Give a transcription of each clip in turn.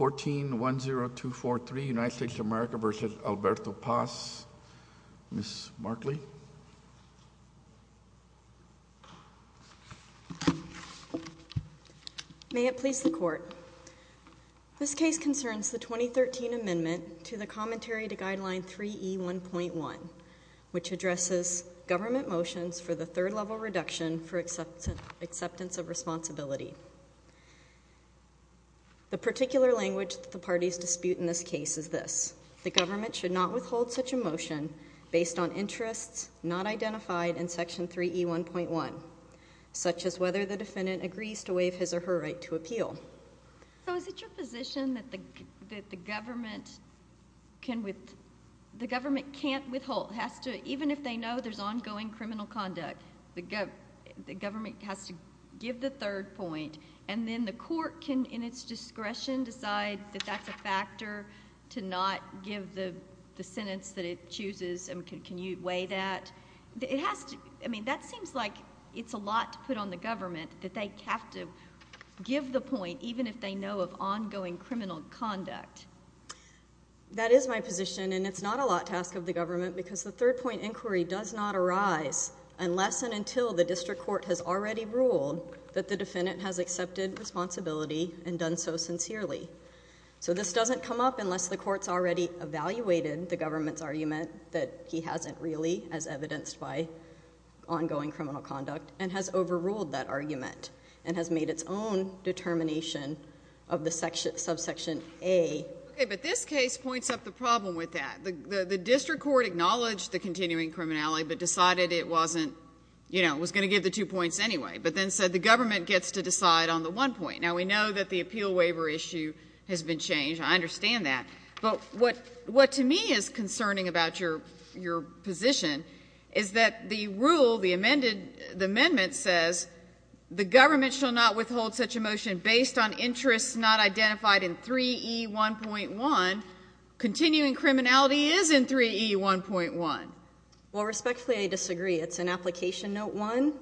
1410243 United States of America v. Alberto Paz Ms. Markley. May it please the Court. This case concerns the 2013 amendment to the commentary to guideline 3e 1.1 which addresses government motions for the third level reduction for acceptance of responsibility. The particular language the parties dispute in this case is this. The government should not withhold such a motion based on interests not identified in section 3e 1.1 such as whether the defendant agrees to waive his or her right to appeal. So is it your position that the government can with the government can't withhold has to even if they know there's ongoing criminal conduct the government has to give the third point and then the court can in its discretion decide that that's a factor to not give the sentence that it chooses and can you weigh that? It has to I mean that seems like it's a lot to put on the government that they have to give the point even if they know of ongoing criminal conduct. That is my position and it's not a lot to ask of the government because the third point inquiry does not arise unless and until the district court has already ruled that the defendant has accepted responsibility and done so sincerely. So this doesn't come up unless the court's already evaluated the government's argument that he hasn't really as evidenced by ongoing criminal conduct and has overruled that argument and has made its own determination of the subsection A. Okay but this case points up the problem with that. The district court acknowledged the continuing criminality but decided it wasn't you know was going to give the two points anyway but then said the government gets to decide on the one point. Now we know that the appeal waiver issue has been changed I understand that but what what to me is concerning about your your position is that the rule the amended the amendment says the government shall not withhold such a motion based on interests not identified in 3e 1.1 continuing criminality is in 3e 1.1. Well respectfully I disagree it's an application note 1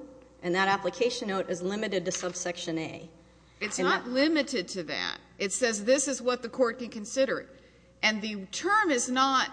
and that application note is limited to subsection A. It's not limited to that it says this is what the court can consider it and the term is not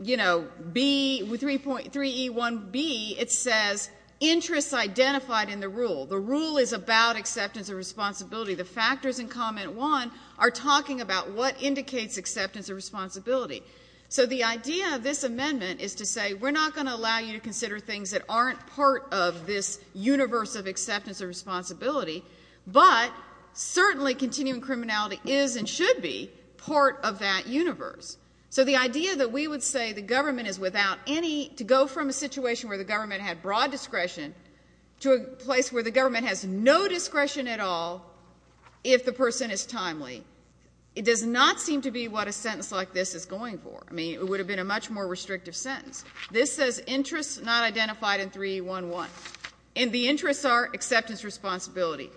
you know be with 3.3 e 1 B it says interests identified in the rule the rule is about acceptance of responsibility the factors in comment 1 are talking about what indicates acceptance of responsibility so the idea of this amendment is to say we're not going to allow you to consider things that aren't part of this universe of acceptance of responsibility but certainly continuing criminality is and should be part of that universe so the idea that we would say the government is without any to go from a situation where the government had broad discretion to a place where the government has no discretion at all if the person is what a sentence like this is going for I mean it would have been a much more restrictive sentence this says interests not identified in 311 and the interests are acceptance responsibility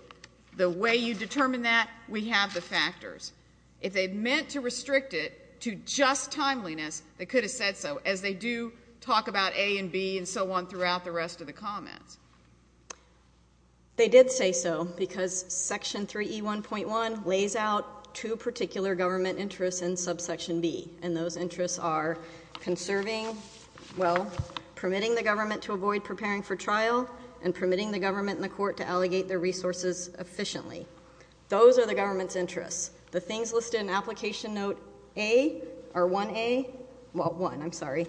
the way you determine that we have the factors if they meant to restrict it to just timeliness they could have said so as they do talk about a and B and so on throughout the rest of the comments they did say so because section 3e 1.1 lays out two particular government interests in subsection B and those interests are conserving well permitting the government to avoid preparing for trial and permitting the government in the court to allegate their resources efficiently those are the government's interests the things listed in application note a or 1a well one I'm sorry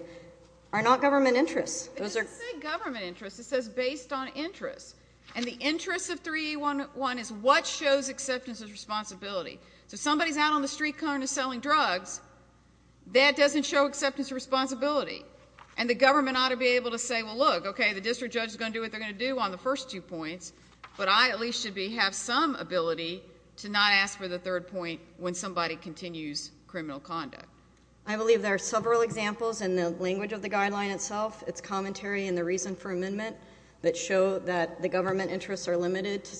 are not government interests those are government interests it says based on interest and the interest of 311 is what shows acceptance of responsibility so somebody's out on the street corner selling drugs that doesn't show acceptance of responsibility and the government ought to be able to say well look okay the district judge is going to do what they're going to do on the first two points but I at least should be have some ability to not ask for the third point when somebody continues criminal conduct I believe there are several examples in the language of the guideline itself it's commentary and the reason for amendment that show that the government interests are limited to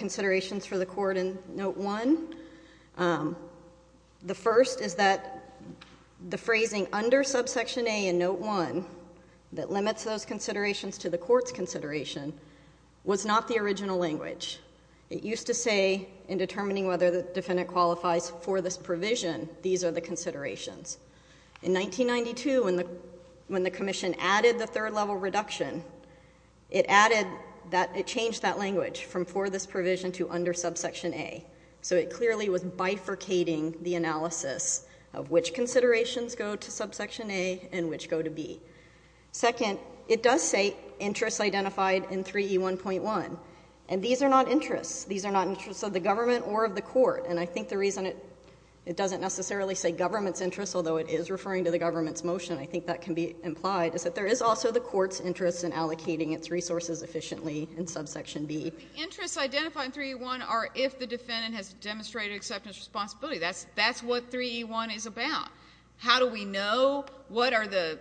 considerations for the court in note one the first is that the phrasing under subsection a in note one that limits those considerations to the court's consideration was not the original language it used to say in determining whether the defendant qualifies for this provision these are the considerations in 1992 when the when the Commission added the third level reduction it added that it changed that language from for this provision to under subsection a so it clearly was bifurcating the analysis of which considerations go to subsection a and which go to be second it does say interests identified in 3e 1.1 and these are not interests these are not interests of the government or of the court and I think the reason it it doesn't necessarily say government's interests although it is referring to the government's motion I think that can be implied is that there is also the court's interest in allocating its resources efficiently in subsection b interests identified 3-1 are if the defendant has demonstrated acceptance responsibility that's that's what 3e 1 is about how do we know what are the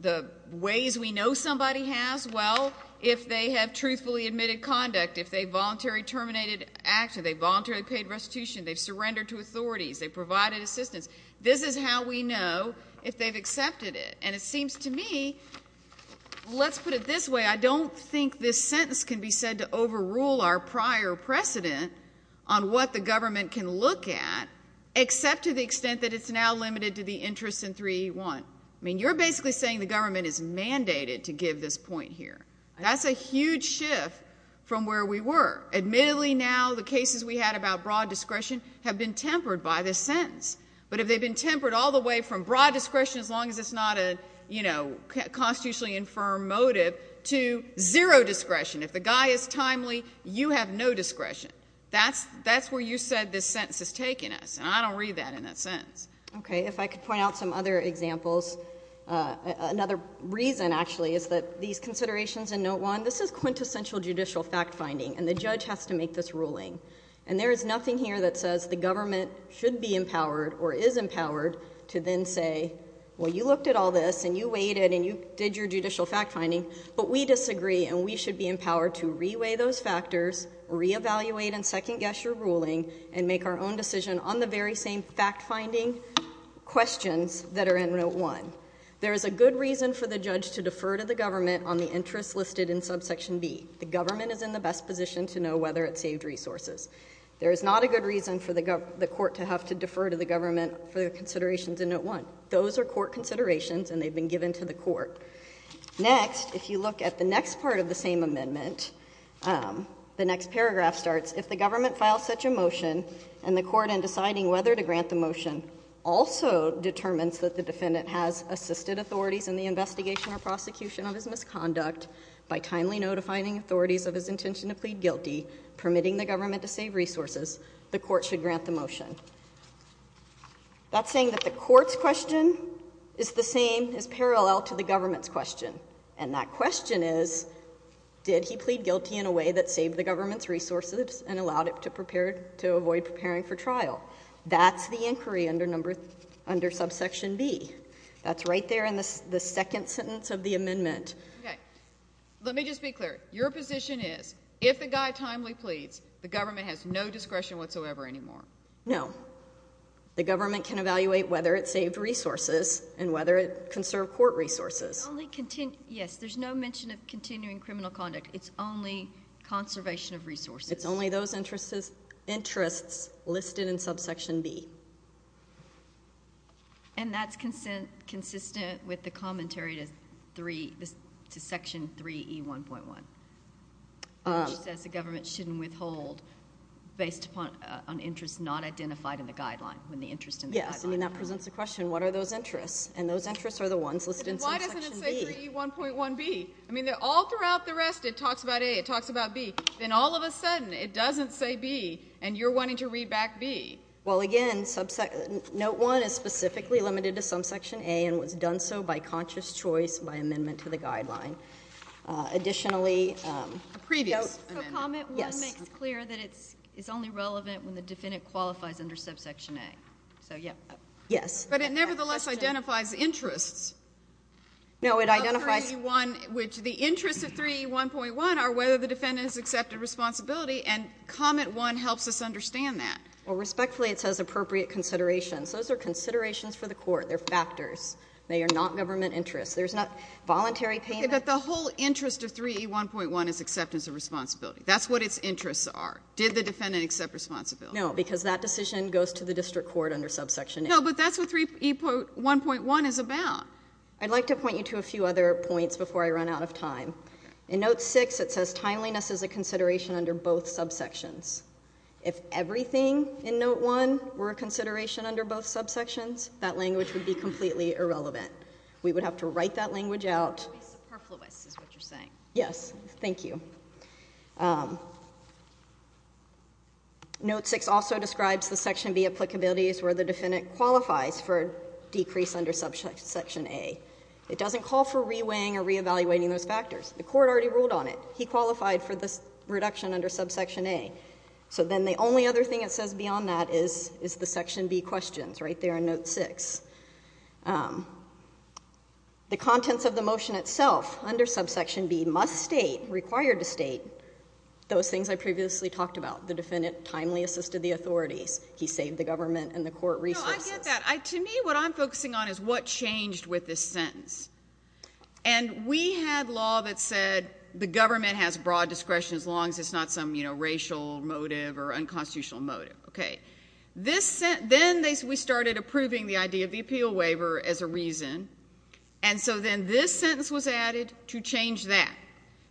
the ways we know somebody has well if they have truthfully admitted conduct if they voluntary terminated action they voluntarily paid restitution they've surrendered to authorities they provided assistance this is how we know if they've accepted it and it seems to me let's put it this way I don't think this sentence can be said to overrule our prior precedent on what the government can look at except to the extent that it's now limited to the interest in 3-1 I mean you're basically saying the government is mandated to give this point here that's a huge shift from where we were admittedly now the cases we had about broad discretion have been tempered by this sentence but if they've been tempered all the way from broad discretion as long as it's not a you know constitutionally infirm motive to zero discretion if the guy is timely you have no discretion that's that's where you said this sentence has taken us and I don't read that in that sentence okay if I could point out some other examples another reason actually is that these considerations and no one this is quintessential judicial fact-finding and the judge has to make this ruling and there is nothing here that says the well you looked at all this and you waited and you did your judicial fact-finding but we disagree and we should be empowered to reweigh those factors re-evaluate and second-guess your ruling and make our own decision on the very same fact-finding questions that are in note one there is a good reason for the judge to defer to the government on the interest listed in subsection B the government is in the best position to know whether it saved resources there is not a good reason for the government the court to have to those are court considerations and they've been given to the court next if you look at the next part of the same amendment the next paragraph starts if the government files such a motion and the court and deciding whether to grant the motion also determines that the defendant has assisted authorities in the investigation or prosecution of his misconduct by timely notifying authorities of his intention to plead guilty permitting the government to save resources the court should grant the motion that's saying that the courts question is the same as parallel to the government's question and that question is did he plead guilty in a way that saved the government's resources and allowed it to prepare to avoid preparing for trial that's the inquiry under number under subsection B that's right there in this the second sentence of the amendment okay let me just be clear your position is if the guy timely pleads the government has no discretion whatsoever anymore no the government can evaluate whether it saved resources and whether it can serve court resources only continue yes there's no mention of continuing criminal conduct it's only conservation of resources it's only those interests interests listed in subsection B and that's consent consistent with the commentary to three this to section 3e 1.1 as the government shouldn't withhold based upon on interest not identified in the guideline when the interest in yes I mean that presents a question what are those interests and those interests are the ones listed in 1.1 B I mean they're all throughout the rest it talks about a it talks about B then all of a sudden it doesn't say B and you're wanting to read back B well again subsection note one is specifically limited to some section a and was done so by conscious choice by amendment to the guideline additionally previous yes clear that it's it's only relevant when the defendant qualifies under subsection a so yeah yes but it nevertheless identifies interests no it identifies one which the interest of 3 1.1 are whether the defendant is accepted responsibility and comment one helps us understand that well respectfully it says appropriate considerations those are considerations for the court they're factors they are not government interest there's not voluntary payment but the whole interest of 3 1.1 is acceptance of responsibility that's what its interests are did the defendant accept responsibility no because that decision goes to the district court under subsection no but that's what three people 1.1 is about I'd like to point you to a few other points before I run out of time in note six it says timeliness is a consideration under both subsections if everything in note one were a consideration under both subsections that language would be completely irrelevant we would have to note six also describes the section B applicability is where the defendant qualifies for decrease under subsection a it doesn't call for reweighing or reevaluating those factors the court already ruled on it he qualified for this reduction under subsection a so then the only other thing it says beyond that is is the section B questions right there in note six the contents of the motion itself under subsection B must state required to state those things I previously talked about the defendant timely assisted the authorities he saved the government and the court resources I to me what I'm focusing on is what changed with this sentence and we had law that said the government has broad discretion as long as it's not some you know racial motive or unconstitutional motive okay this then they we started approving the idea of the appeal waiver as a reason and so then this sentence was added to change that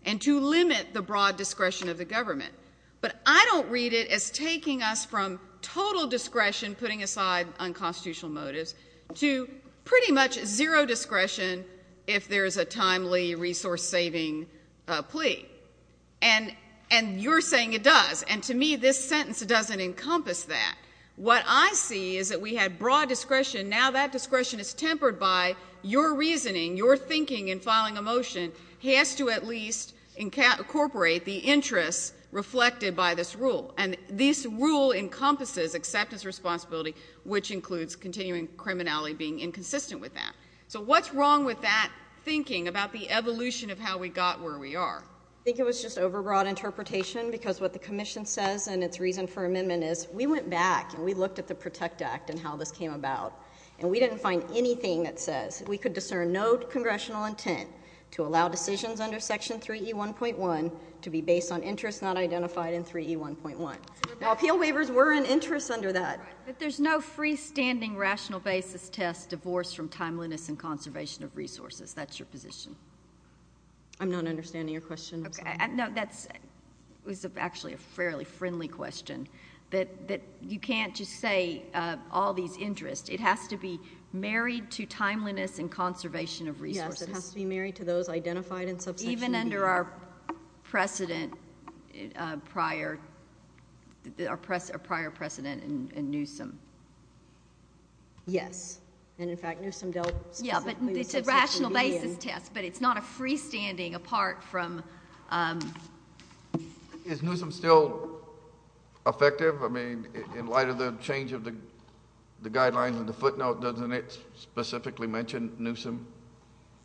and to limit the broad discretion of the government but I don't read it as taking us from total discretion putting aside unconstitutional motives to pretty much zero discretion if there is a timely resource-saving plea and and you're saying it does and to me this sentence doesn't encompass that what I see is that we had broad discretion now that discretion is tempered by your reasoning your thinking in filing a motion he has to at least incorporate the interests reflected by this rule and this rule encompasses acceptance responsibility which includes continuing criminality being inconsistent with that so what's wrong with that thinking about the evolution of how we got where we are I think it was just overbroad interpretation because what the Commission says and its reason for amendment is we went back and we looked at the Protect Act and how this came about and we didn't find anything that we could discern no congressional intent to allow decisions under section 3e 1.1 to be based on interest not identified in 3e 1.1 appeal waivers were an interest under that but there's no freestanding rational basis test divorce from timeliness and conservation of resources that's your position I'm not understanding your question okay I know that's was actually a fairly friendly question that that you can't just say all these interests it has to be married to timeliness and conservation of resources to be married to those identified and so even under our precedent prior our press a prior precedent and Newsome yes and in fact Newsome dealt yeah but it's a rational basis test but it's not a freestanding apart from is Newsome still effective I mean in light of the change of the the guidelines and the footnote doesn't it's specifically mentioned Newsome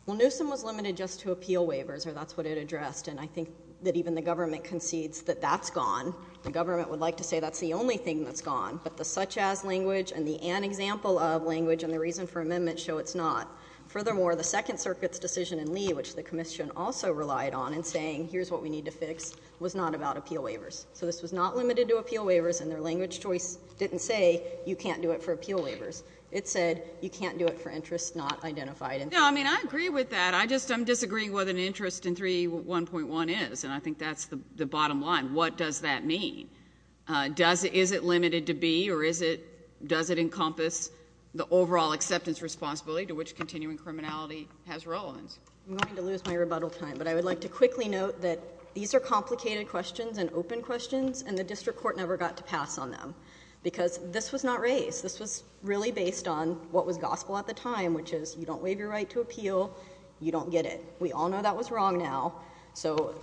well Newsome was limited just to appeal waivers or that's what it addressed and I think that even the government concedes that that's gone the government would like to say that's the only thing that's gone but the such-as language and the an example of language and the reason for amendment show it's not furthermore the Second Circuit's decision in Lee which the Commission also relied on and saying here's what we need to fix was not about appeal waivers so this was not limited to appeal waivers and their language choice didn't say you can't do it for appeal waivers it said you can't do it for interest not identified and I mean I agree with that I just I'm disagreeing with an interest in 3 1.1 is and I think that's the bottom line what does that mean does it is it limited to be or is it does it encompass the overall acceptance responsibility to which continuing criminality has relevance I'm going to lose my rebuttal time but I would like to quickly note that these are complicated questions and open questions and the district court never got to pass on them because this was not raised this was really based on what was gospel at the time which is you don't waive your right to appeal you don't get it we all know that was wrong now so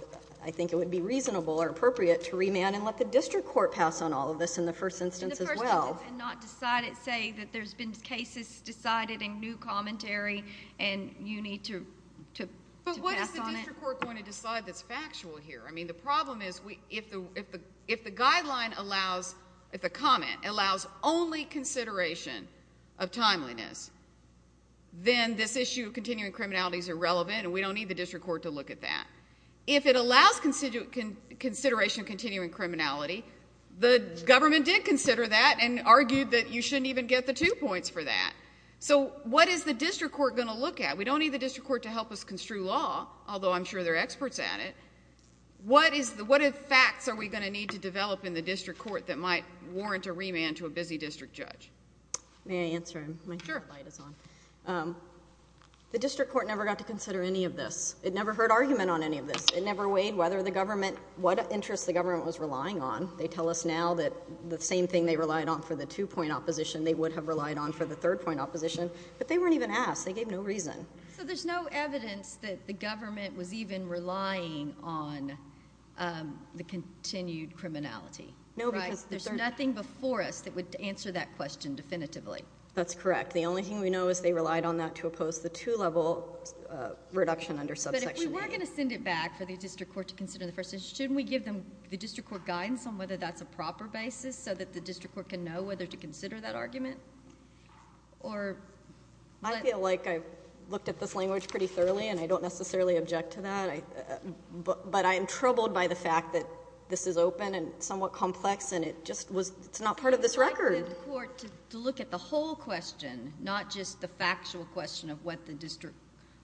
I think it would be reasonable or appropriate to remand and let the district court pass on all of this in the first instance as well and not decided say that there's been cases decided in new commentary and you need to but what is the court going to decide that's factual here I mean the problem is we if the if the if the guideline allows if the comment allows only consideration of timeliness then this issue of continuing criminality is irrelevant and we don't need the district court to look at that if it allows constituent can consideration continuing criminality the government did consider that and argued that you shouldn't even get the two points for that so what is the district court going to look at we don't need the district court to help us construe law although I'm sure they're experts at it what is the what if facts are we going to need to develop in the district court that might warrant a remand to a busy district judge may I answer him the district court never got to consider any of this it never heard argument on any of this it never weighed whether the government what interests the government was relying on they tell us now that the same thing they relied on for the two-point opposition they would have relied on for the third point opposition but they weren't even asked they gave no reason so there's no evidence that the government was even relying on the continued criminality no because there's nothing before us that would answer that question definitively that's correct the only thing we know is they relied on that to oppose the two-level reduction under subsection but if we were going to send it back for the district court to consider the first shouldn't we give them the district court guidance on whether that's a proper basis so that the district court can know whether to consider that argument or I feel like I've looked at this language pretty thoroughly and I don't necessarily object to that but I am troubled by the fact that this is open and somewhat complex and it just was it's not part of this record to look at the whole question not just the factual question of what the district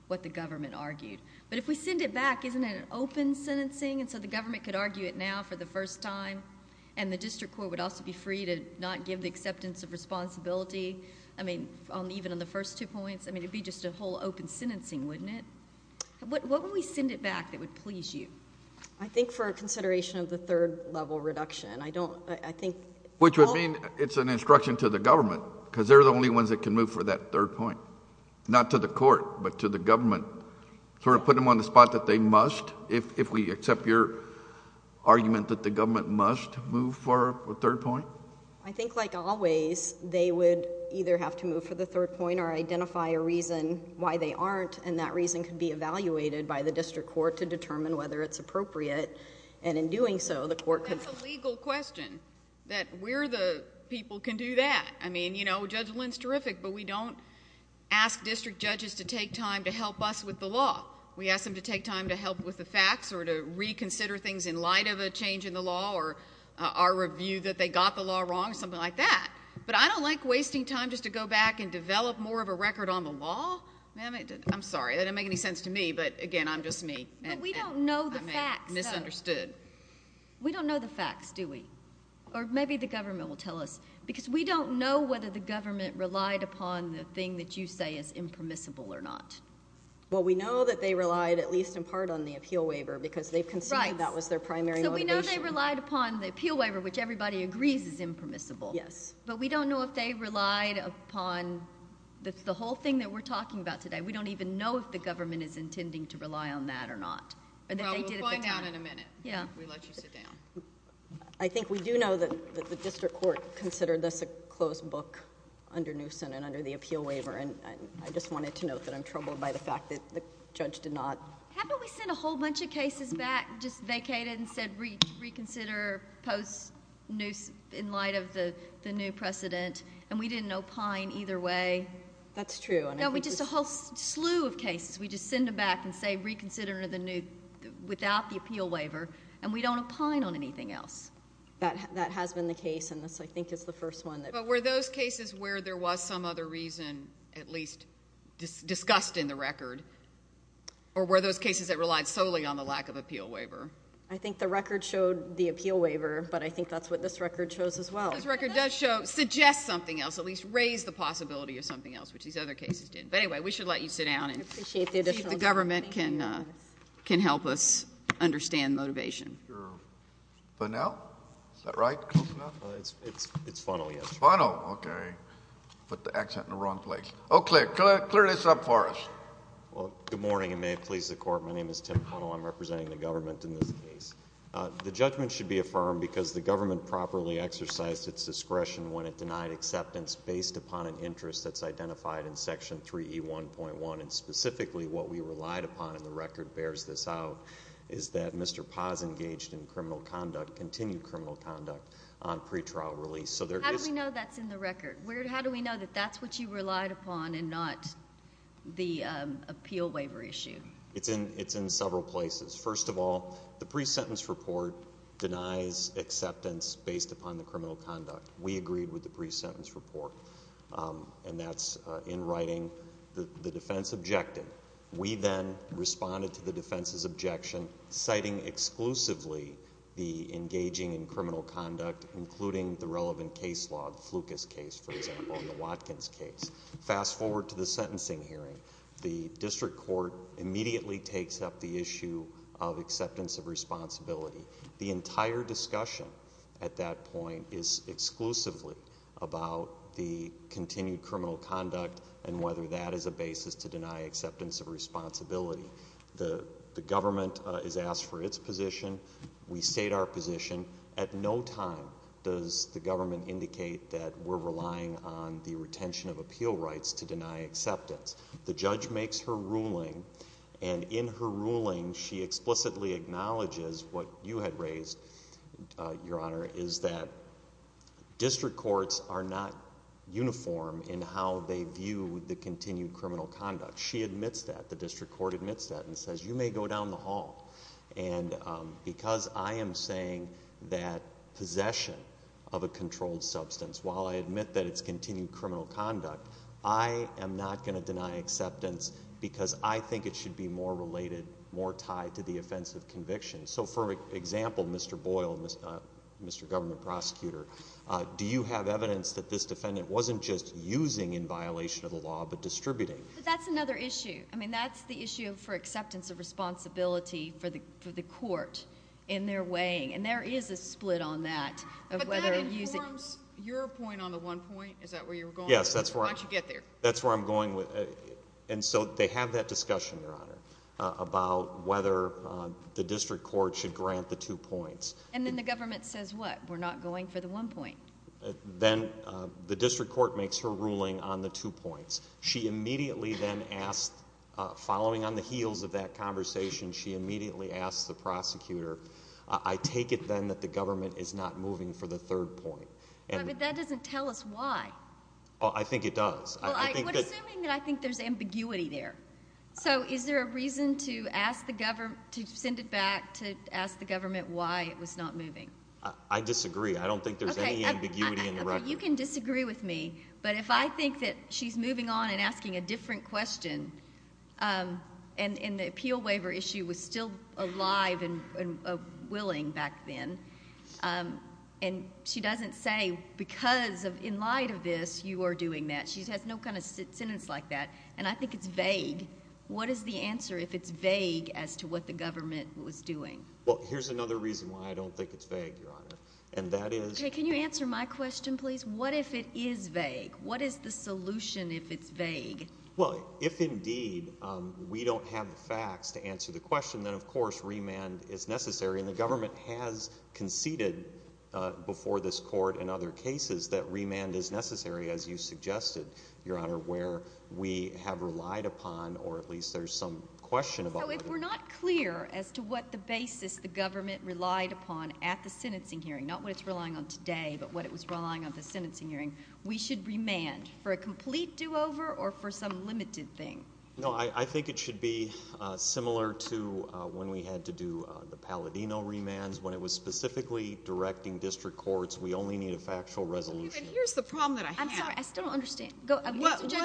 what the government argued but if we send it back isn't it an open sentencing and so the government could argue it now for the first time and the district court would also be free to not give the acceptance of responsibility I mean on even on the first two points I mean it'd be just a whole open sentencing wouldn't it what would we send it back that would please you I think for a consideration of the third level reduction I don't I think which would mean it's an instruction to the government because they're the only ones that can move for that third point not to the court but to the government sort of put them on the spot that they must if we accept your argument that the government must move for a third point I think like always they would either have to move for the third point or identify a reason why they aren't and that reason can be evaluated by the district court to determine whether it's appropriate and in doing so the court could legal question that we're the people can do that I mean you know judge Lin's terrific but we don't ask district judges to take time to help us with the law we ask them to take time to help with the facts or to reconsider things in light of a change in the law or our review that they got the law wrong something like that but I don't like wasting time just to go back and develop more of a record on the law I'm sorry they don't make any sense to me but again I'm just me we don't know the fact misunderstood we don't know the facts do we or maybe the government will tell us because we don't know whether the government relied upon the thing that you say is impermissible or not well we know that they relied at least in part on the appeal waiver because they've considered that was their primary we know they relied upon the appeal waiver which everybody agrees is impermissible yes but we don't know if they relied upon that's the whole thing that we're talking about today we don't even know if the government is intending to rely on that or not I think we do know that the district court considered this a closed book under new Senate under the appeal waiver and I just wanted to note that I'm troubled by the fact that the judge did not happen we sent a whole bunch of cases back just vacated and said reach reconsider post news in light of the the new precedent and we didn't know pine either way that's true and we just a whole slew of cases we just send them back and say reconsider the new without the appeal waiver and we don't opine on anything else that that has been the case and this I think is the first one that were those cases where there was some other reason at least just discussed in the record or were those cases that relied solely on the lack of appeal waiver I think the record showed the appeal waiver but I think that's what this record shows as well as record does show suggest something else at least raise the possibility of something else which these other cases did but anyway we should let you sit down and appreciate the government can can help us understand motivation for now right it's it's it's funnel yes I know okay but the accent in the wrong place Oh clear clear this up for us well good morning and may it please the court my name is Tim I'm representing the government in this case the judgment should be affirmed because the government properly exercised its discretion when it denied acceptance based upon an interest that's identified in section 3e 1.1 and specifically what we relied upon in the record bears this out is that mr. paws engaged in criminal conduct continued criminal conduct on pretrial release so there's no that's in the record weird how do we know that that's what you relied upon and not the appeal waiver issue it's in it's in several places first of all the pre-sentence report denies acceptance based upon the criminal conduct we agreed with the pre-sentence report and that's in writing the defense objected we then responded to the defense's objection citing exclusively the engaging in criminal conduct including the relevant case log Lucas case for example in the Watkins case fast forward to the sentencing hearing the district court immediately takes up the issue of discussion at that point is exclusively about the continued criminal conduct and whether that is a basis to deny acceptance of responsibility the the government is asked for its position we state our position at no time does the government indicate that we're relying on the retention of appeal rights to deny acceptance the judge makes her ruling and in her ruling she explicitly acknowledges what you had raised your honor is that district courts are not uniform in how they view the continued criminal conduct she admits that the district court admits that and says you may go down the hall and because I am saying that possession of a controlled substance while I admit that it's continued criminal conduct I am NOT going to deny acceptance because I think it should be more related more tied to the offense of conviction so for example Mr. Boyle was not Mr. governor prosecutor do you have evidence that this defendant wasn't just using in violation of the law but distributing that's another issue I mean that's the issue for acceptance of responsibility for the for the court in their way and there is a split on that your point on the one point is that where you're going yes that's where I get there that's where I'm going with and so they have that discussion your honor about whether the district court should grant the two points and then the government says what we're not going for the one point then the district court makes her ruling on the two points she immediately then asked following on the heels of that conversation she immediately asked the prosecutor I take it then that the government is not moving for the third point and that doesn't tell us why I think it does I think there's ambiguity there so is there a reason to ask the government to send it back to ask the government why it was not moving I disagree I don't think there's any ambiguity in the record you can disagree with me but if I think that she's moving on and asking a different question and in the appeal waiver issue was still alive and willing back then and she doesn't say because of in light of this you are doing that she has no kind of sentence like that and I think it's vague what is the answer if it's vague as to what the government was doing well here's another reason why I don't think it's vague your honor and that is can you answer my question please what if it is vague what is the solution if it's vague well if indeed we don't have the facts to answer the question then of course remand is conceded before this court and other cases that remand is necessary as you suggested your honor where we have relied upon or at least there's some question about it we're not clear as to what the basis the government relied upon at the sentencing hearing not what it's relying on today but what it was relying on the sentencing hearing we should remand for a complete do-over or for some limited thing no I think it should be similar to when we had to do the Palladino remands when it was specifically directing district courts we only need a factual resolution here's the problem that I still understand go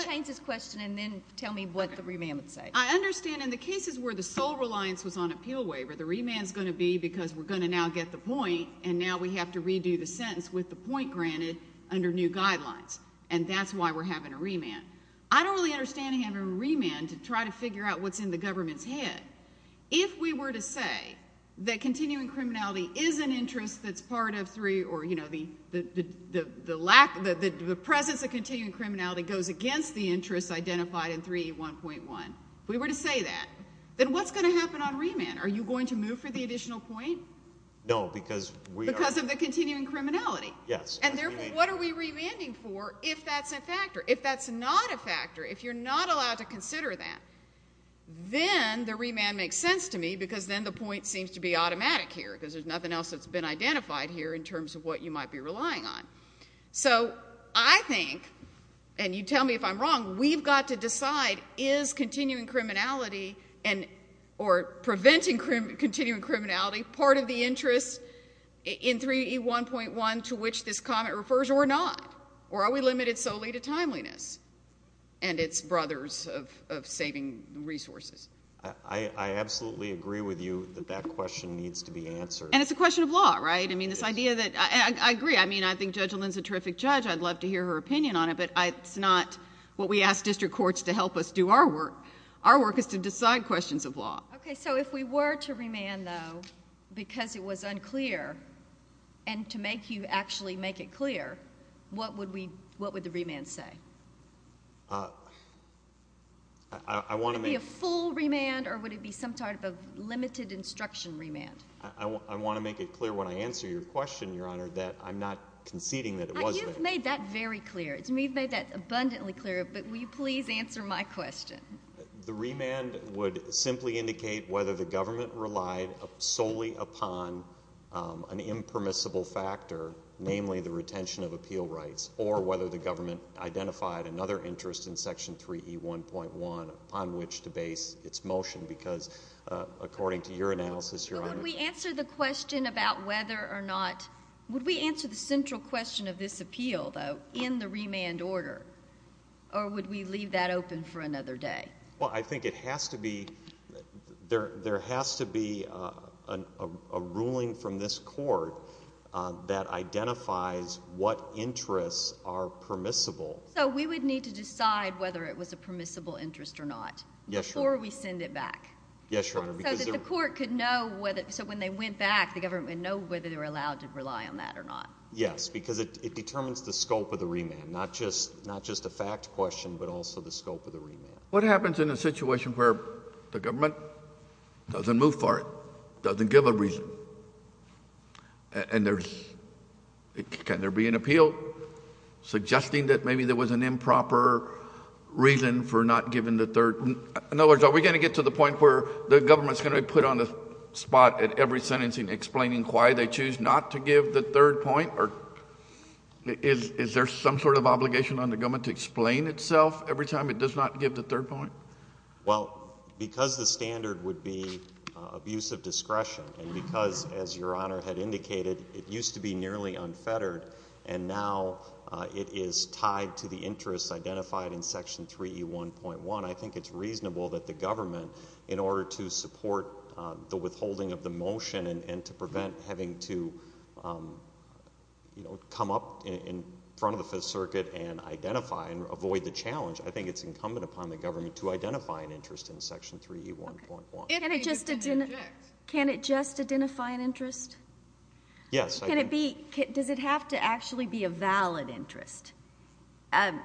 change this question and then tell me what the remand would say I understand in the cases where the sole reliance was on appeal waiver the remand is going to be because we're going to now get the point and now we have to redo the sentence with the point granted under new guidelines and that's why we're having a remand I don't really understand having a remand to try to say that continuing criminality is an interest that's part of three or you know the the lack that the presence of continuing criminality goes against the interests identified in three one point one we were to say that then what's going to happen on remand are you going to move for the additional point no because we because of the continuing criminality yes and therefore what are we remaining for if that's a factor if that's not a factor if you're not allowed to consider that then the remand makes sense to me because then the point seems to be automatic here because there's nothing else that's been identified here in terms of what you might be relying on so I think and you tell me if I'm wrong we've got to decide is continuing criminality and or preventing crim continuing criminality part of the interest in 3d 1.1 to which this comment refers or not or are we limited solely to timeliness and its brothers of saving resources I I absolutely agree with you that that question needs to be answered and it's a question of law right I mean this idea that I agree I mean I think judge Lynn's a terrific judge I'd love to hear her opinion on it but I it's not what we asked district courts to help us do our work our work is to decide questions of law okay so if we were to remand though because it was unclear and to make you actually make it clear what would we what would the remand say I want to be a full remand or would it be some type of limited instruction remand I want to make it clear when I answer your question your honor that I'm not conceding that it was made that very clear it's made made that abundantly clear but will you please answer my question the remand would simply indicate whether the government relied solely upon an impermissible factor namely the retention of appeal rights or whether the government identified another interest in section 3e 1.1 upon which to base its motion because according to your analysis your honor we answer the question about whether or not would we answer the central question of this appeal though in the remand order or would we leave that open for another day well I think it has to be there there has to be a ruling from this court that identifies what interests are permissible so we would need to decide whether it was a permissible interest or not yes or we send it back yes your honor because the court could know whether so when they went back the government know whether they were allowed to rely on that or not yes because it determines the scope of the remand not just not just a fact question but also the scope of the remand what happens in a situation where the government doesn't move for it doesn't give a reason and there's can there be an appeal suggesting that maybe there was an improper reason for not giving the third in other words are we going to get to the point where the government's going to put on the spot at every sentencing explaining why they choose not to give the third point or is is there some sort of obligation on the government to explain itself every time it does not give the third point well because the abuse of discretion and because as your honor had indicated it used to be nearly unfettered and now it is tied to the interest identified in section 3e 1.1 I think it's reasonable that the government in order to support the withholding of the motion and to prevent having to you know come up in front of the Fifth Circuit and identify and avoid the challenge I think it's incumbent upon the government to identify an interest in section 3e 1.1 and it just didn't can it just identify an interest yes can it be does it have to actually be a valid interest and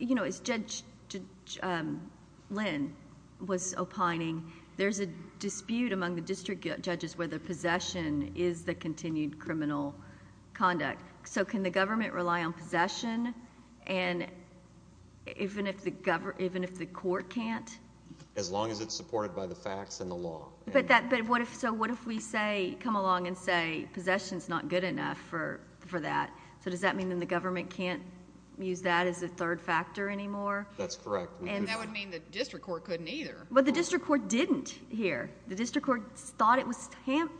you know it's judge Lynn was opining there's a dispute among the district judges where the possession is the continued criminal conduct so can the government rely on possession and even if the even if the court can't as long as it's supported by the facts and the law but that but what if so what if we say come along and say possessions not good enough for for that so does that mean then the government can't use that as a third factor anymore that's correct and that would mean the district court couldn't either but the district court didn't hear the district court thought it was ham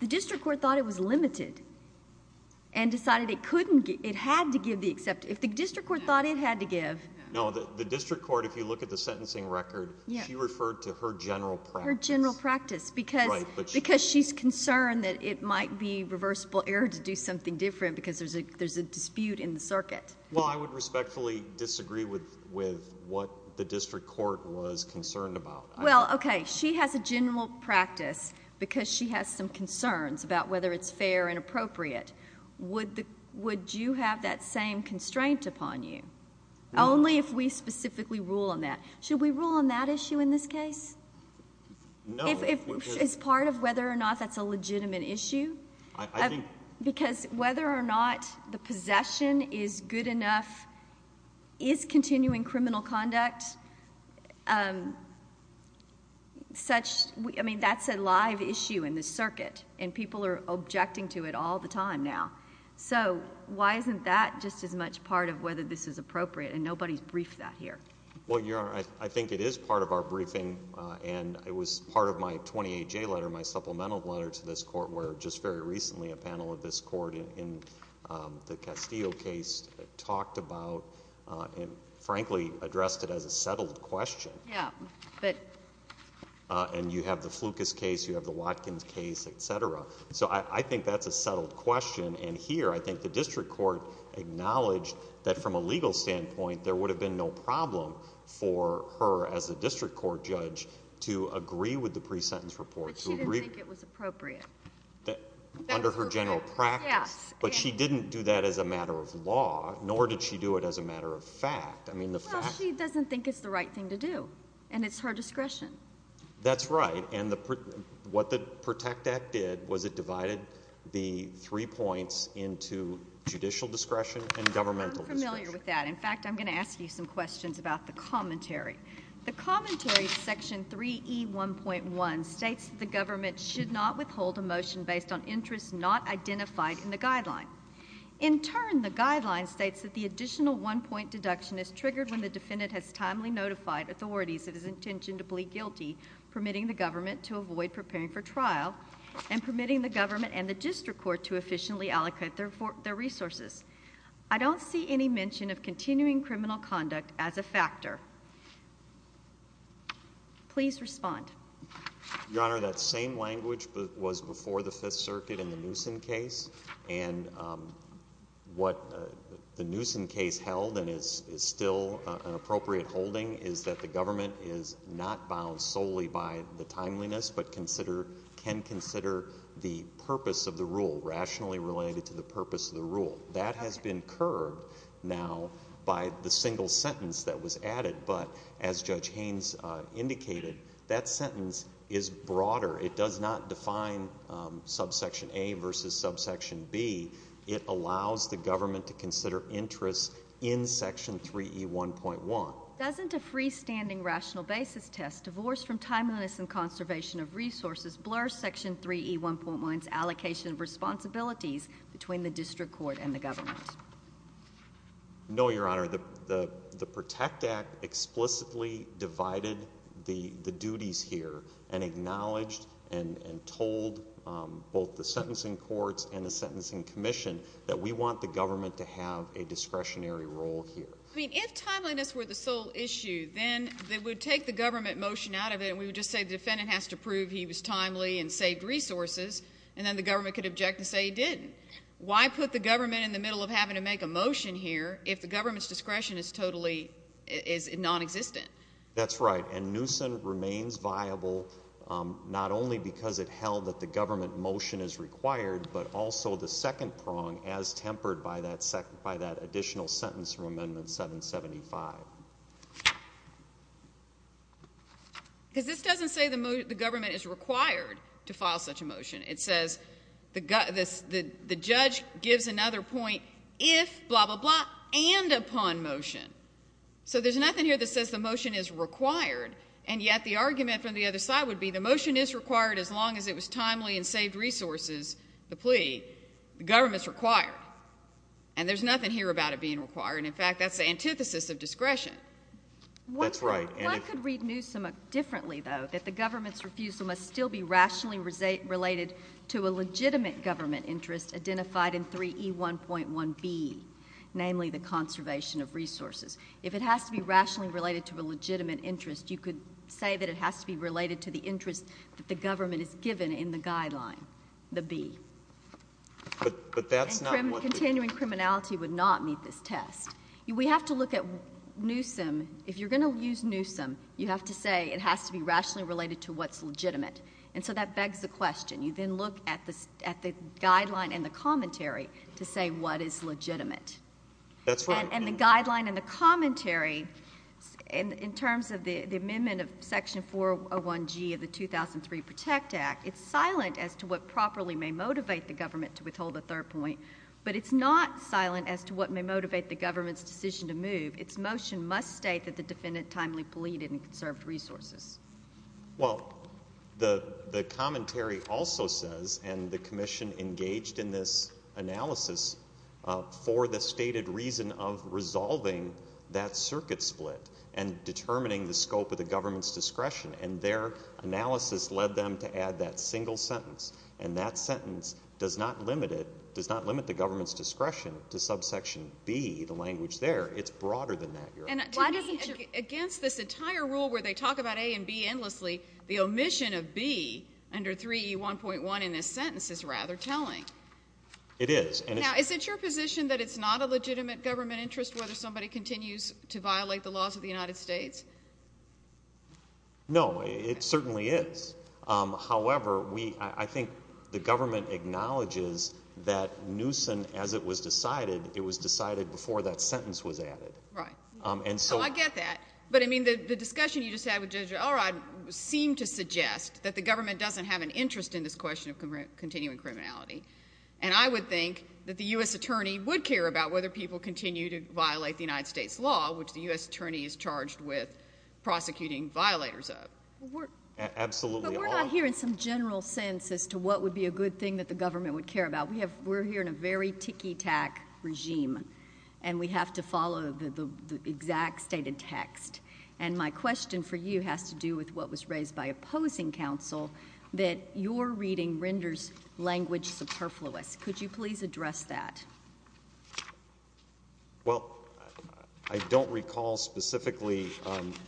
the district court thought it was limited and decided it couldn't get it had to give the except if the district court thought it had to give no the district court if you look at the sentencing record you referred to her general general practice because because she's concerned that it might be reversible error to do something different because there's a there's a dispute in the circuit well I would respectfully disagree with with what the district court was concerned about well okay she has a general practice because she has some concerns about whether it's fair and appropriate would the would you have that same constraint upon you only if we specifically rule on that should we rule on that issue in this case it's part of whether or not that's a legitimate issue because whether or not the possession is good enough is continuing criminal conduct such I mean that's a live issue in this circuit and why isn't that just as much part of whether this is appropriate and nobody's briefed that here well you're I think it is part of our briefing and it was part of my 28 J letter my supplemental letter to this court where just very recently a panel of this court in the Castillo case talked about and frankly addressed it as a settled question yeah but and you have the flukus case you have the Watkins case etc so I think that's a settled question and here I think the district court acknowledged that from a legal standpoint there would have been no problem for her as a district court judge to agree with the pre-sentence report so agree it was appropriate that under her general practice but she didn't do that as a matter of law nor did she do it as a matter of fact I mean the fact she doesn't think it's the right thing to do and it's her discretion that's right and the what the protect act did was it divided the three points into judicial discretion and governmental familiar with that in fact I'm gonna ask you some questions about the commentary the commentary section 3e 1.1 states the government should not withhold a motion based on interest not identified in the guideline in turn the guideline states that the additional one point deduction is triggered when the defendant has timely notified authorities that his intention to plead guilty permitting the government to avoid preparing for trial and permitting the government and the district court to efficiently allocate their for their resources I don't see any mention of continuing criminal conduct as a factor please respond your honor that same language but was before the Fifth Circuit in the Newsom case and what the Newsom case held and is is still an appropriate holding is that the government is not bound solely by the timeliness but consider can consider the purpose of the rule rationally related to the purpose of the rule that has been curved now by the single sentence that was added but as judge Haynes indicated that sentence is broader it does not define subsection a versus subsection B it allows the government to consider interests in section 3e 1.1 doesn't a freestanding rational basis test divorce from timeliness and conservation of resources blur section 3e 1.1 allocation responsibilities between the district court and the government no your honor the the Protect Act explicitly divided the the duties here and acknowledged and told both the sentencing courts and the commission that we want the government to have a discretionary role here I mean if timeliness were the sole issue then they would take the government motion out of it we would just say the defendant has to prove he was timely and saved resources and then the government could object to say didn't why put the government in the middle of having to make a motion here if the government's discretion is totally is non-existent that's right and Newsom remains viable not only because it held that the government motion is required but also the second prong as tempered by that second by that additional sentence from amendment 775 because this doesn't say the move the government is required to file such a motion it says the gut this the judge gives another point if blah blah blah and upon motion so there's nothing here that says the motion is required and yet the argument from the other side would be the motion is government's required and there's nothing here about it being required in fact that's the antithesis of discretion that's right and I could read Newsom differently though that the government's refusal must still be rationally related to a legitimate government interest identified in 3E1.1B namely the conservation of resources if it has to be rationally related to a legitimate interest you could say that it has to be related to the interest that the government is given in the guideline the B but that's not what continuing criminality would not meet this test we have to look at Newsom if you're gonna use Newsom you have to say it has to be rationally related to what's legitimate and so that begs the question you then look at this at the guideline and the commentary to say what is legitimate that's right and the guideline and the commentary and in terms of the the amendment of section 401 G of the 2003 Protect Act it's silent as to what properly may motivate the government to withhold a third point but it's not silent as to what may motivate the government's decision to move its motion must state that the defendant timely pleaded and conserved resources well the the commentary also says and the Commission engaged in this analysis for the stated reason of resolving that circuit split and determining the scope of the government's discretion and their analysis led them to add that single sentence and that sentence does not limit it does not limit the government's discretion to subsection be the language there it's broader than that you're in it why doesn't you against this entire rule where they talk about a and B endlessly the omission of B under 3e 1.1 in this sentence is rather telling it is and now is it your position that it's not a legitimate government interest whether somebody continues to violate the laws of the United States no it certainly is however we I think the government acknowledges that Newsom as it was decided it was decided before that sentence was added right and so I get that but I mean the discussion you just had with judge all right seemed to suggest that the government doesn't have an interest in this question of continuing criminality and I would think that the u.s. attorney would care about whether people continue to violate the United States law which the u.s. attorney is charged with prosecuting violators of work absolutely we're not here in some general sense as to what would be a good thing that the government would care about we have we're here in a very tiki-tac regime and we have to follow the exact stated text and my question for you has to do with what was raised by opposing counsel that your reading renders language superfluous could you please address that well I don't recall specifically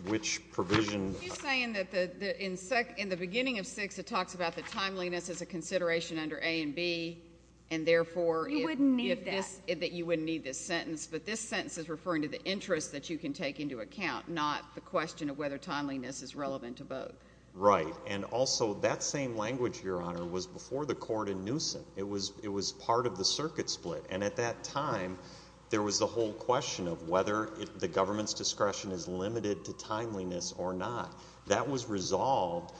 which provision in the beginning of six it talks about the timeliness as a consideration under a and B and therefore you wouldn't need that that you wouldn't need this sentence but this sentence is referring to the interest that you can take into account not the question of whether timeliness is relevant to both right and also that same language your honor was before the court in Newsom it was it was part of the circuit split and at that time there was the whole question of whether the government's discretion is limited to timeliness or not that was resolved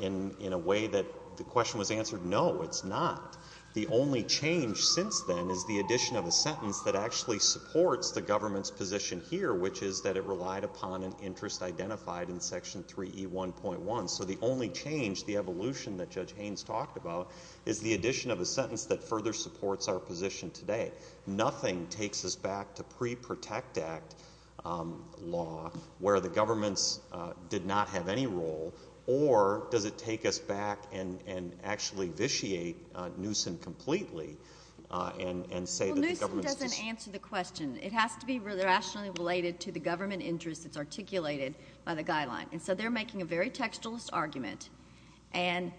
in in a way that the question was answered no it's not the only change since then is the addition of a sentence that actually supports the government's position here which is that it relied upon an interest identified in section 3e 1.1 so the only change the evolution that judge Haynes talked about is the addition of a sentence that further supports our position today nothing takes us back to pre protect act law where the government's did not have any role or does it take us back and and actually vitiate Newsom completely and and say the government doesn't answer the question it has to be really rationally related to the government interest that's articulated by the guideline and so they're making a very textualist argument and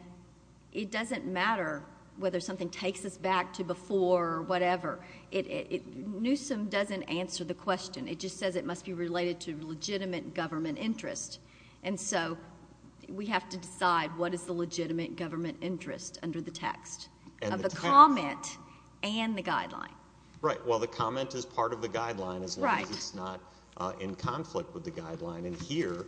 it doesn't matter whether something takes us back to before whatever it Newsom doesn't answer the question it just says it must be related to legitimate government interest and so we have to decide what is the legitimate government interest under the text and the comment and the guideline right well the comment is part of the guideline is right it's not in conflict with the guideline and here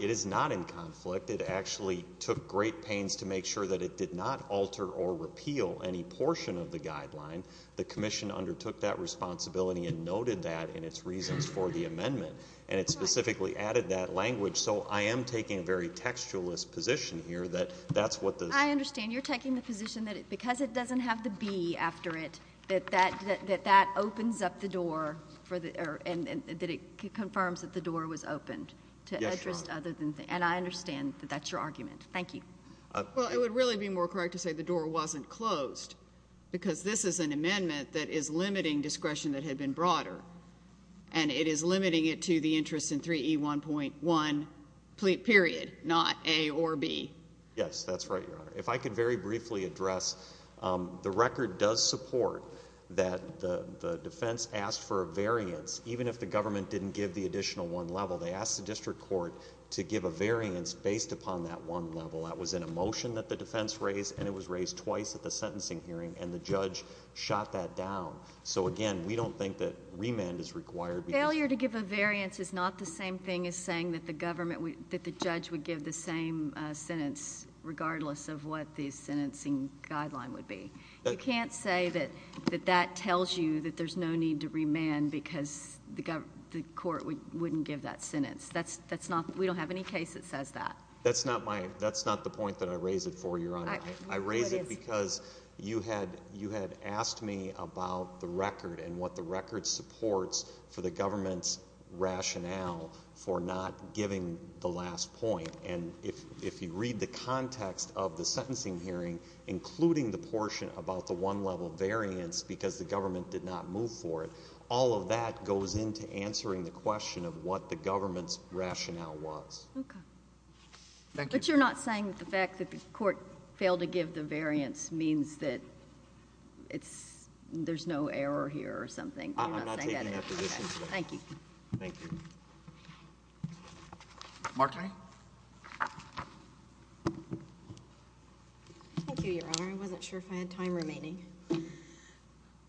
it is not in conflict it actually took great pains to make sure that it did not alter or repeal any portion of the guideline the Commission undertook that responsibility and noted that in its reasons for the amendment and it specifically added that language so I am taking a very textualist position here that that's what the I understand you're taking the position that it because it doesn't have to be after it that that that that opens up the door for the air and that it confirms that the door was opened to interest other than and I understand that that's your argument thank you well it would really be more correct to say the door wasn't closed because this is an amendment that is limiting discretion that had been broader and it is limiting it to the interest in 3e 1.1 pleat period not a or B yes that's right your honor if I could very briefly address the record does support that the defense asked for a variance even if the government didn't give the additional one level they asked the district court to give a variance based upon that one level that was in a and it was raised twice at the sentencing hearing and the judge shot that down so again we don't think that remand is required failure to give a variance is not the same thing as saying that the government we that the judge would give the same sentence regardless of what these sentencing guideline would be you can't say that that that tells you that there's no need to remand because the government the court we wouldn't give that sentence that's that's not we don't have any case that says that that's not my that's not the point that I raise it for your honor I raise it because you had you had asked me about the record and what the record supports for the government's rationale for not giving the last point and if if you read the context of the sentencing hearing including the portion about the one level variance because the government did not move for it all of that goes into answering the question of what the I'm not saying that the fact that the court failed to give the variance means that it's there's no error here or something I'm not taking that position. Thank you. Thank you. Marta. Thank you your honor. I wasn't sure if I had time remaining.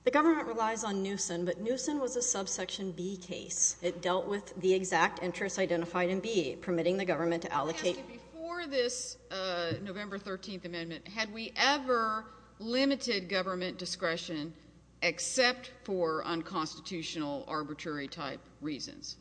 The government relies on Newsom but Newsom was a subsection B case it dealt with the exact interests identified in B permitting the government to allocate Before this November 13th amendment had we ever limited government discretion except for unconstitutional arbitrary type reasons?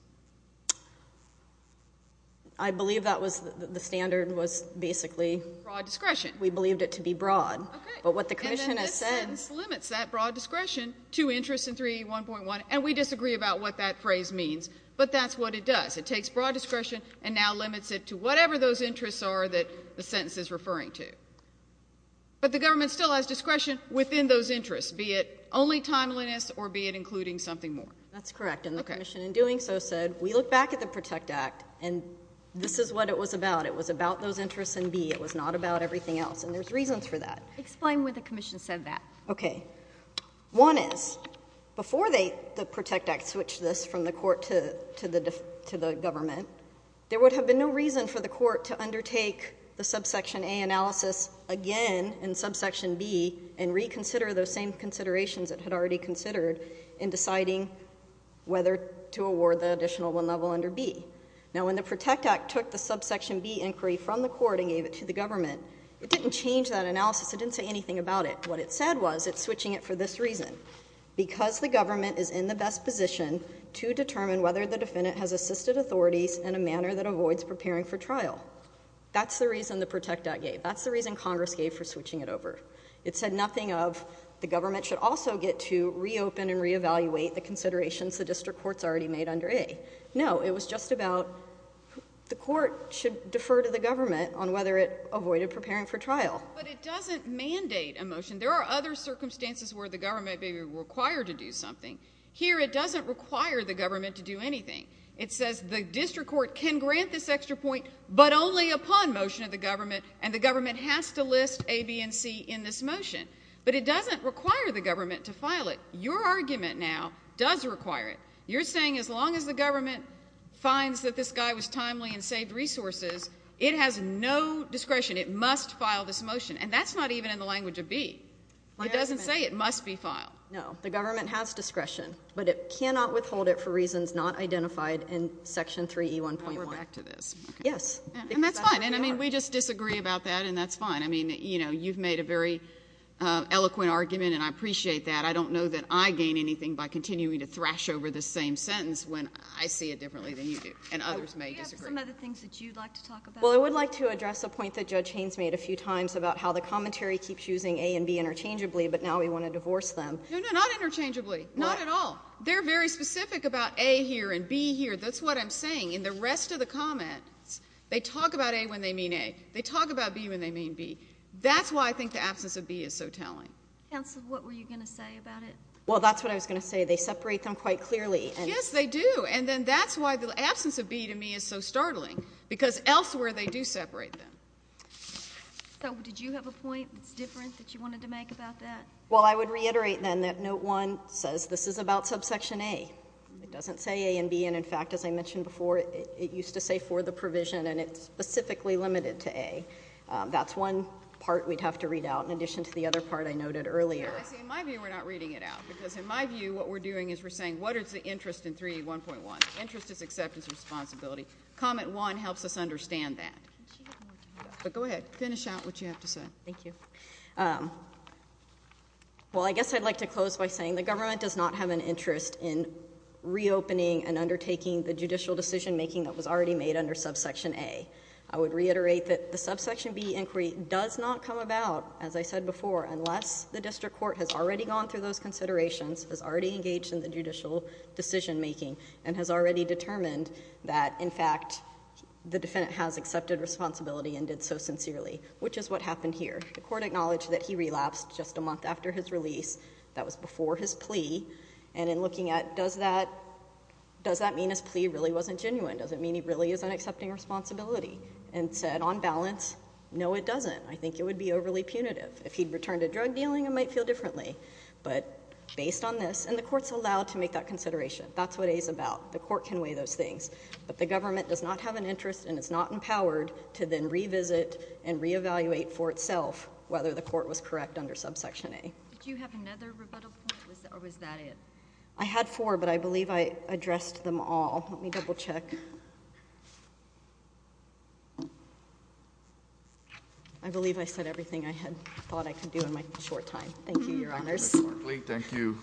I believe that was the standard was basically broad discretion we believed it to be broad but what the commission has said limits that broad discretion to interest in 3.1 and we disagree about what that phrase means but that's what it does it takes broad discretion and now limits it to whatever those interests are that the sentence is referring to but the government still has discretion within those interests be it only timeliness or be it including something more. That's correct and the commission in doing so said we look back at the protect act and this is what it was about it was about those interests in B it was not about everything else and there's reasons for that. Explain why the commission said that. One is before the protect act switched this from the court to the government there would have been no reason for the court to undertake the subsection A analysis again in subsection B and reconsider those same considerations it had already considered in deciding whether to award the additional one level under B. Now when the protect act took the subsection B inquiry from the court and gave it to the government it didn't change that analysis it didn't say anything about it. What it said was it's switching it for this reason because the government is in the best position to determine whether the defendant has assisted authorities in a manner that avoids preparing for trial. That's the reason the protect act gave that's the reason congress gave for switching it over. It said nothing of the government should also get to reopen and reevaluate the considerations the district courts already made under A. No it was just about the court should defer to the government on whether it avoided preparing for trial. But it doesn't mandate a motion there are other circumstances where the government may be required to do something. Here it doesn't require the government to do anything. It says the district court can grant this extra point but only upon motion of the government and the government has to list A, B and C in this motion. But it doesn't require the government to file it. Your argument now does require it. You're saying as long as the government finds that this guy was timely and saved resources it has no discretion it must file this motion and that's not even in the language of B. It doesn't say it must be filed. No. The government has discretion but it cannot withhold it for reasons not identified in section 3E1.1. We're back to this. Yes. And that's fine. And I mean we just disagree about that and that's fine. I mean you know you've made a very eloquent argument and I appreciate that. I don't know that I gain anything by continuing to thrash over the same sentence when I see it differently than you do and others may disagree. Do you have some other things that you'd like to talk about? Well, I would like to address a point that Judge Haynes made a few times about how the commentary keeps using A and B interchangeably but now we want to divorce them. No, no, not interchangeably. Not at all. They're very specific about A here and B here. That's what I'm saying. In the rest of the comments they talk about A when they mean A. They talk about B when they mean B. That's why I think the absence of B is so telling. Counsel, what were you going to say about it? Well, that's what I was going to say. They separate them quite clearly. Yes, they do. And then that's why the absence of B to me is so startling because elsewhere they do separate them. So did you have a point that's different that you wanted to make about that? Well, I would reiterate then that Note 1 says this is about subsection A. It doesn't say A and B and, in fact, as I mentioned before, it used to say for the provision and it's specifically limited to A. That's one part we'd have to read out in addition to the other part I noted earlier. I see. In my view we're not reading it out because, in my view, what we're doing is we're saying what is the interest in 3E1.1. Interest is acceptance and responsibility. Comment 1 helps us understand that. But go ahead. Finish out what you have to say. Thank you. Well, I guess I'd like to close by saying the government does not have an interest in reopening and undertaking the judicial decision making that was already made under subsection A. I would reiterate that the subsection B inquiry does not come about, as I said before, unless the district court has already gone through those considerations, has already engaged in the judicial decision making, and has already determined that, in fact, the defendant has accepted responsibility and did so sincerely, which is what happened here. The court acknowledged that he relapsed just a month after his release. That was before his plea. And in looking at does that mean his plea really wasn't genuine? Does it mean he really isn't accepting responsibility? And said, on balance, no, it doesn't. I think it would be overly punitive. If he'd returned to drug dealing, it might feel differently. But based on this, and the court's allowed to make that consideration. That's what A is about. The court can weigh those things. But the government does not have an interest and is not empowered to then revisit and reevaluate for itself whether the court was correct under subsection A. Did you have another rebuttal point, or was that it? I had four, but I believe I addressed them all. Let me double check. I believe I said everything I had thought I could do in my short time. Thank you, Your Honors. Thank you,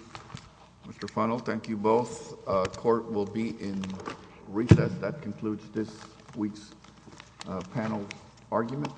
Mr. Funnell. Thank you both. Court will be in recess. That concludes this week's panel argument.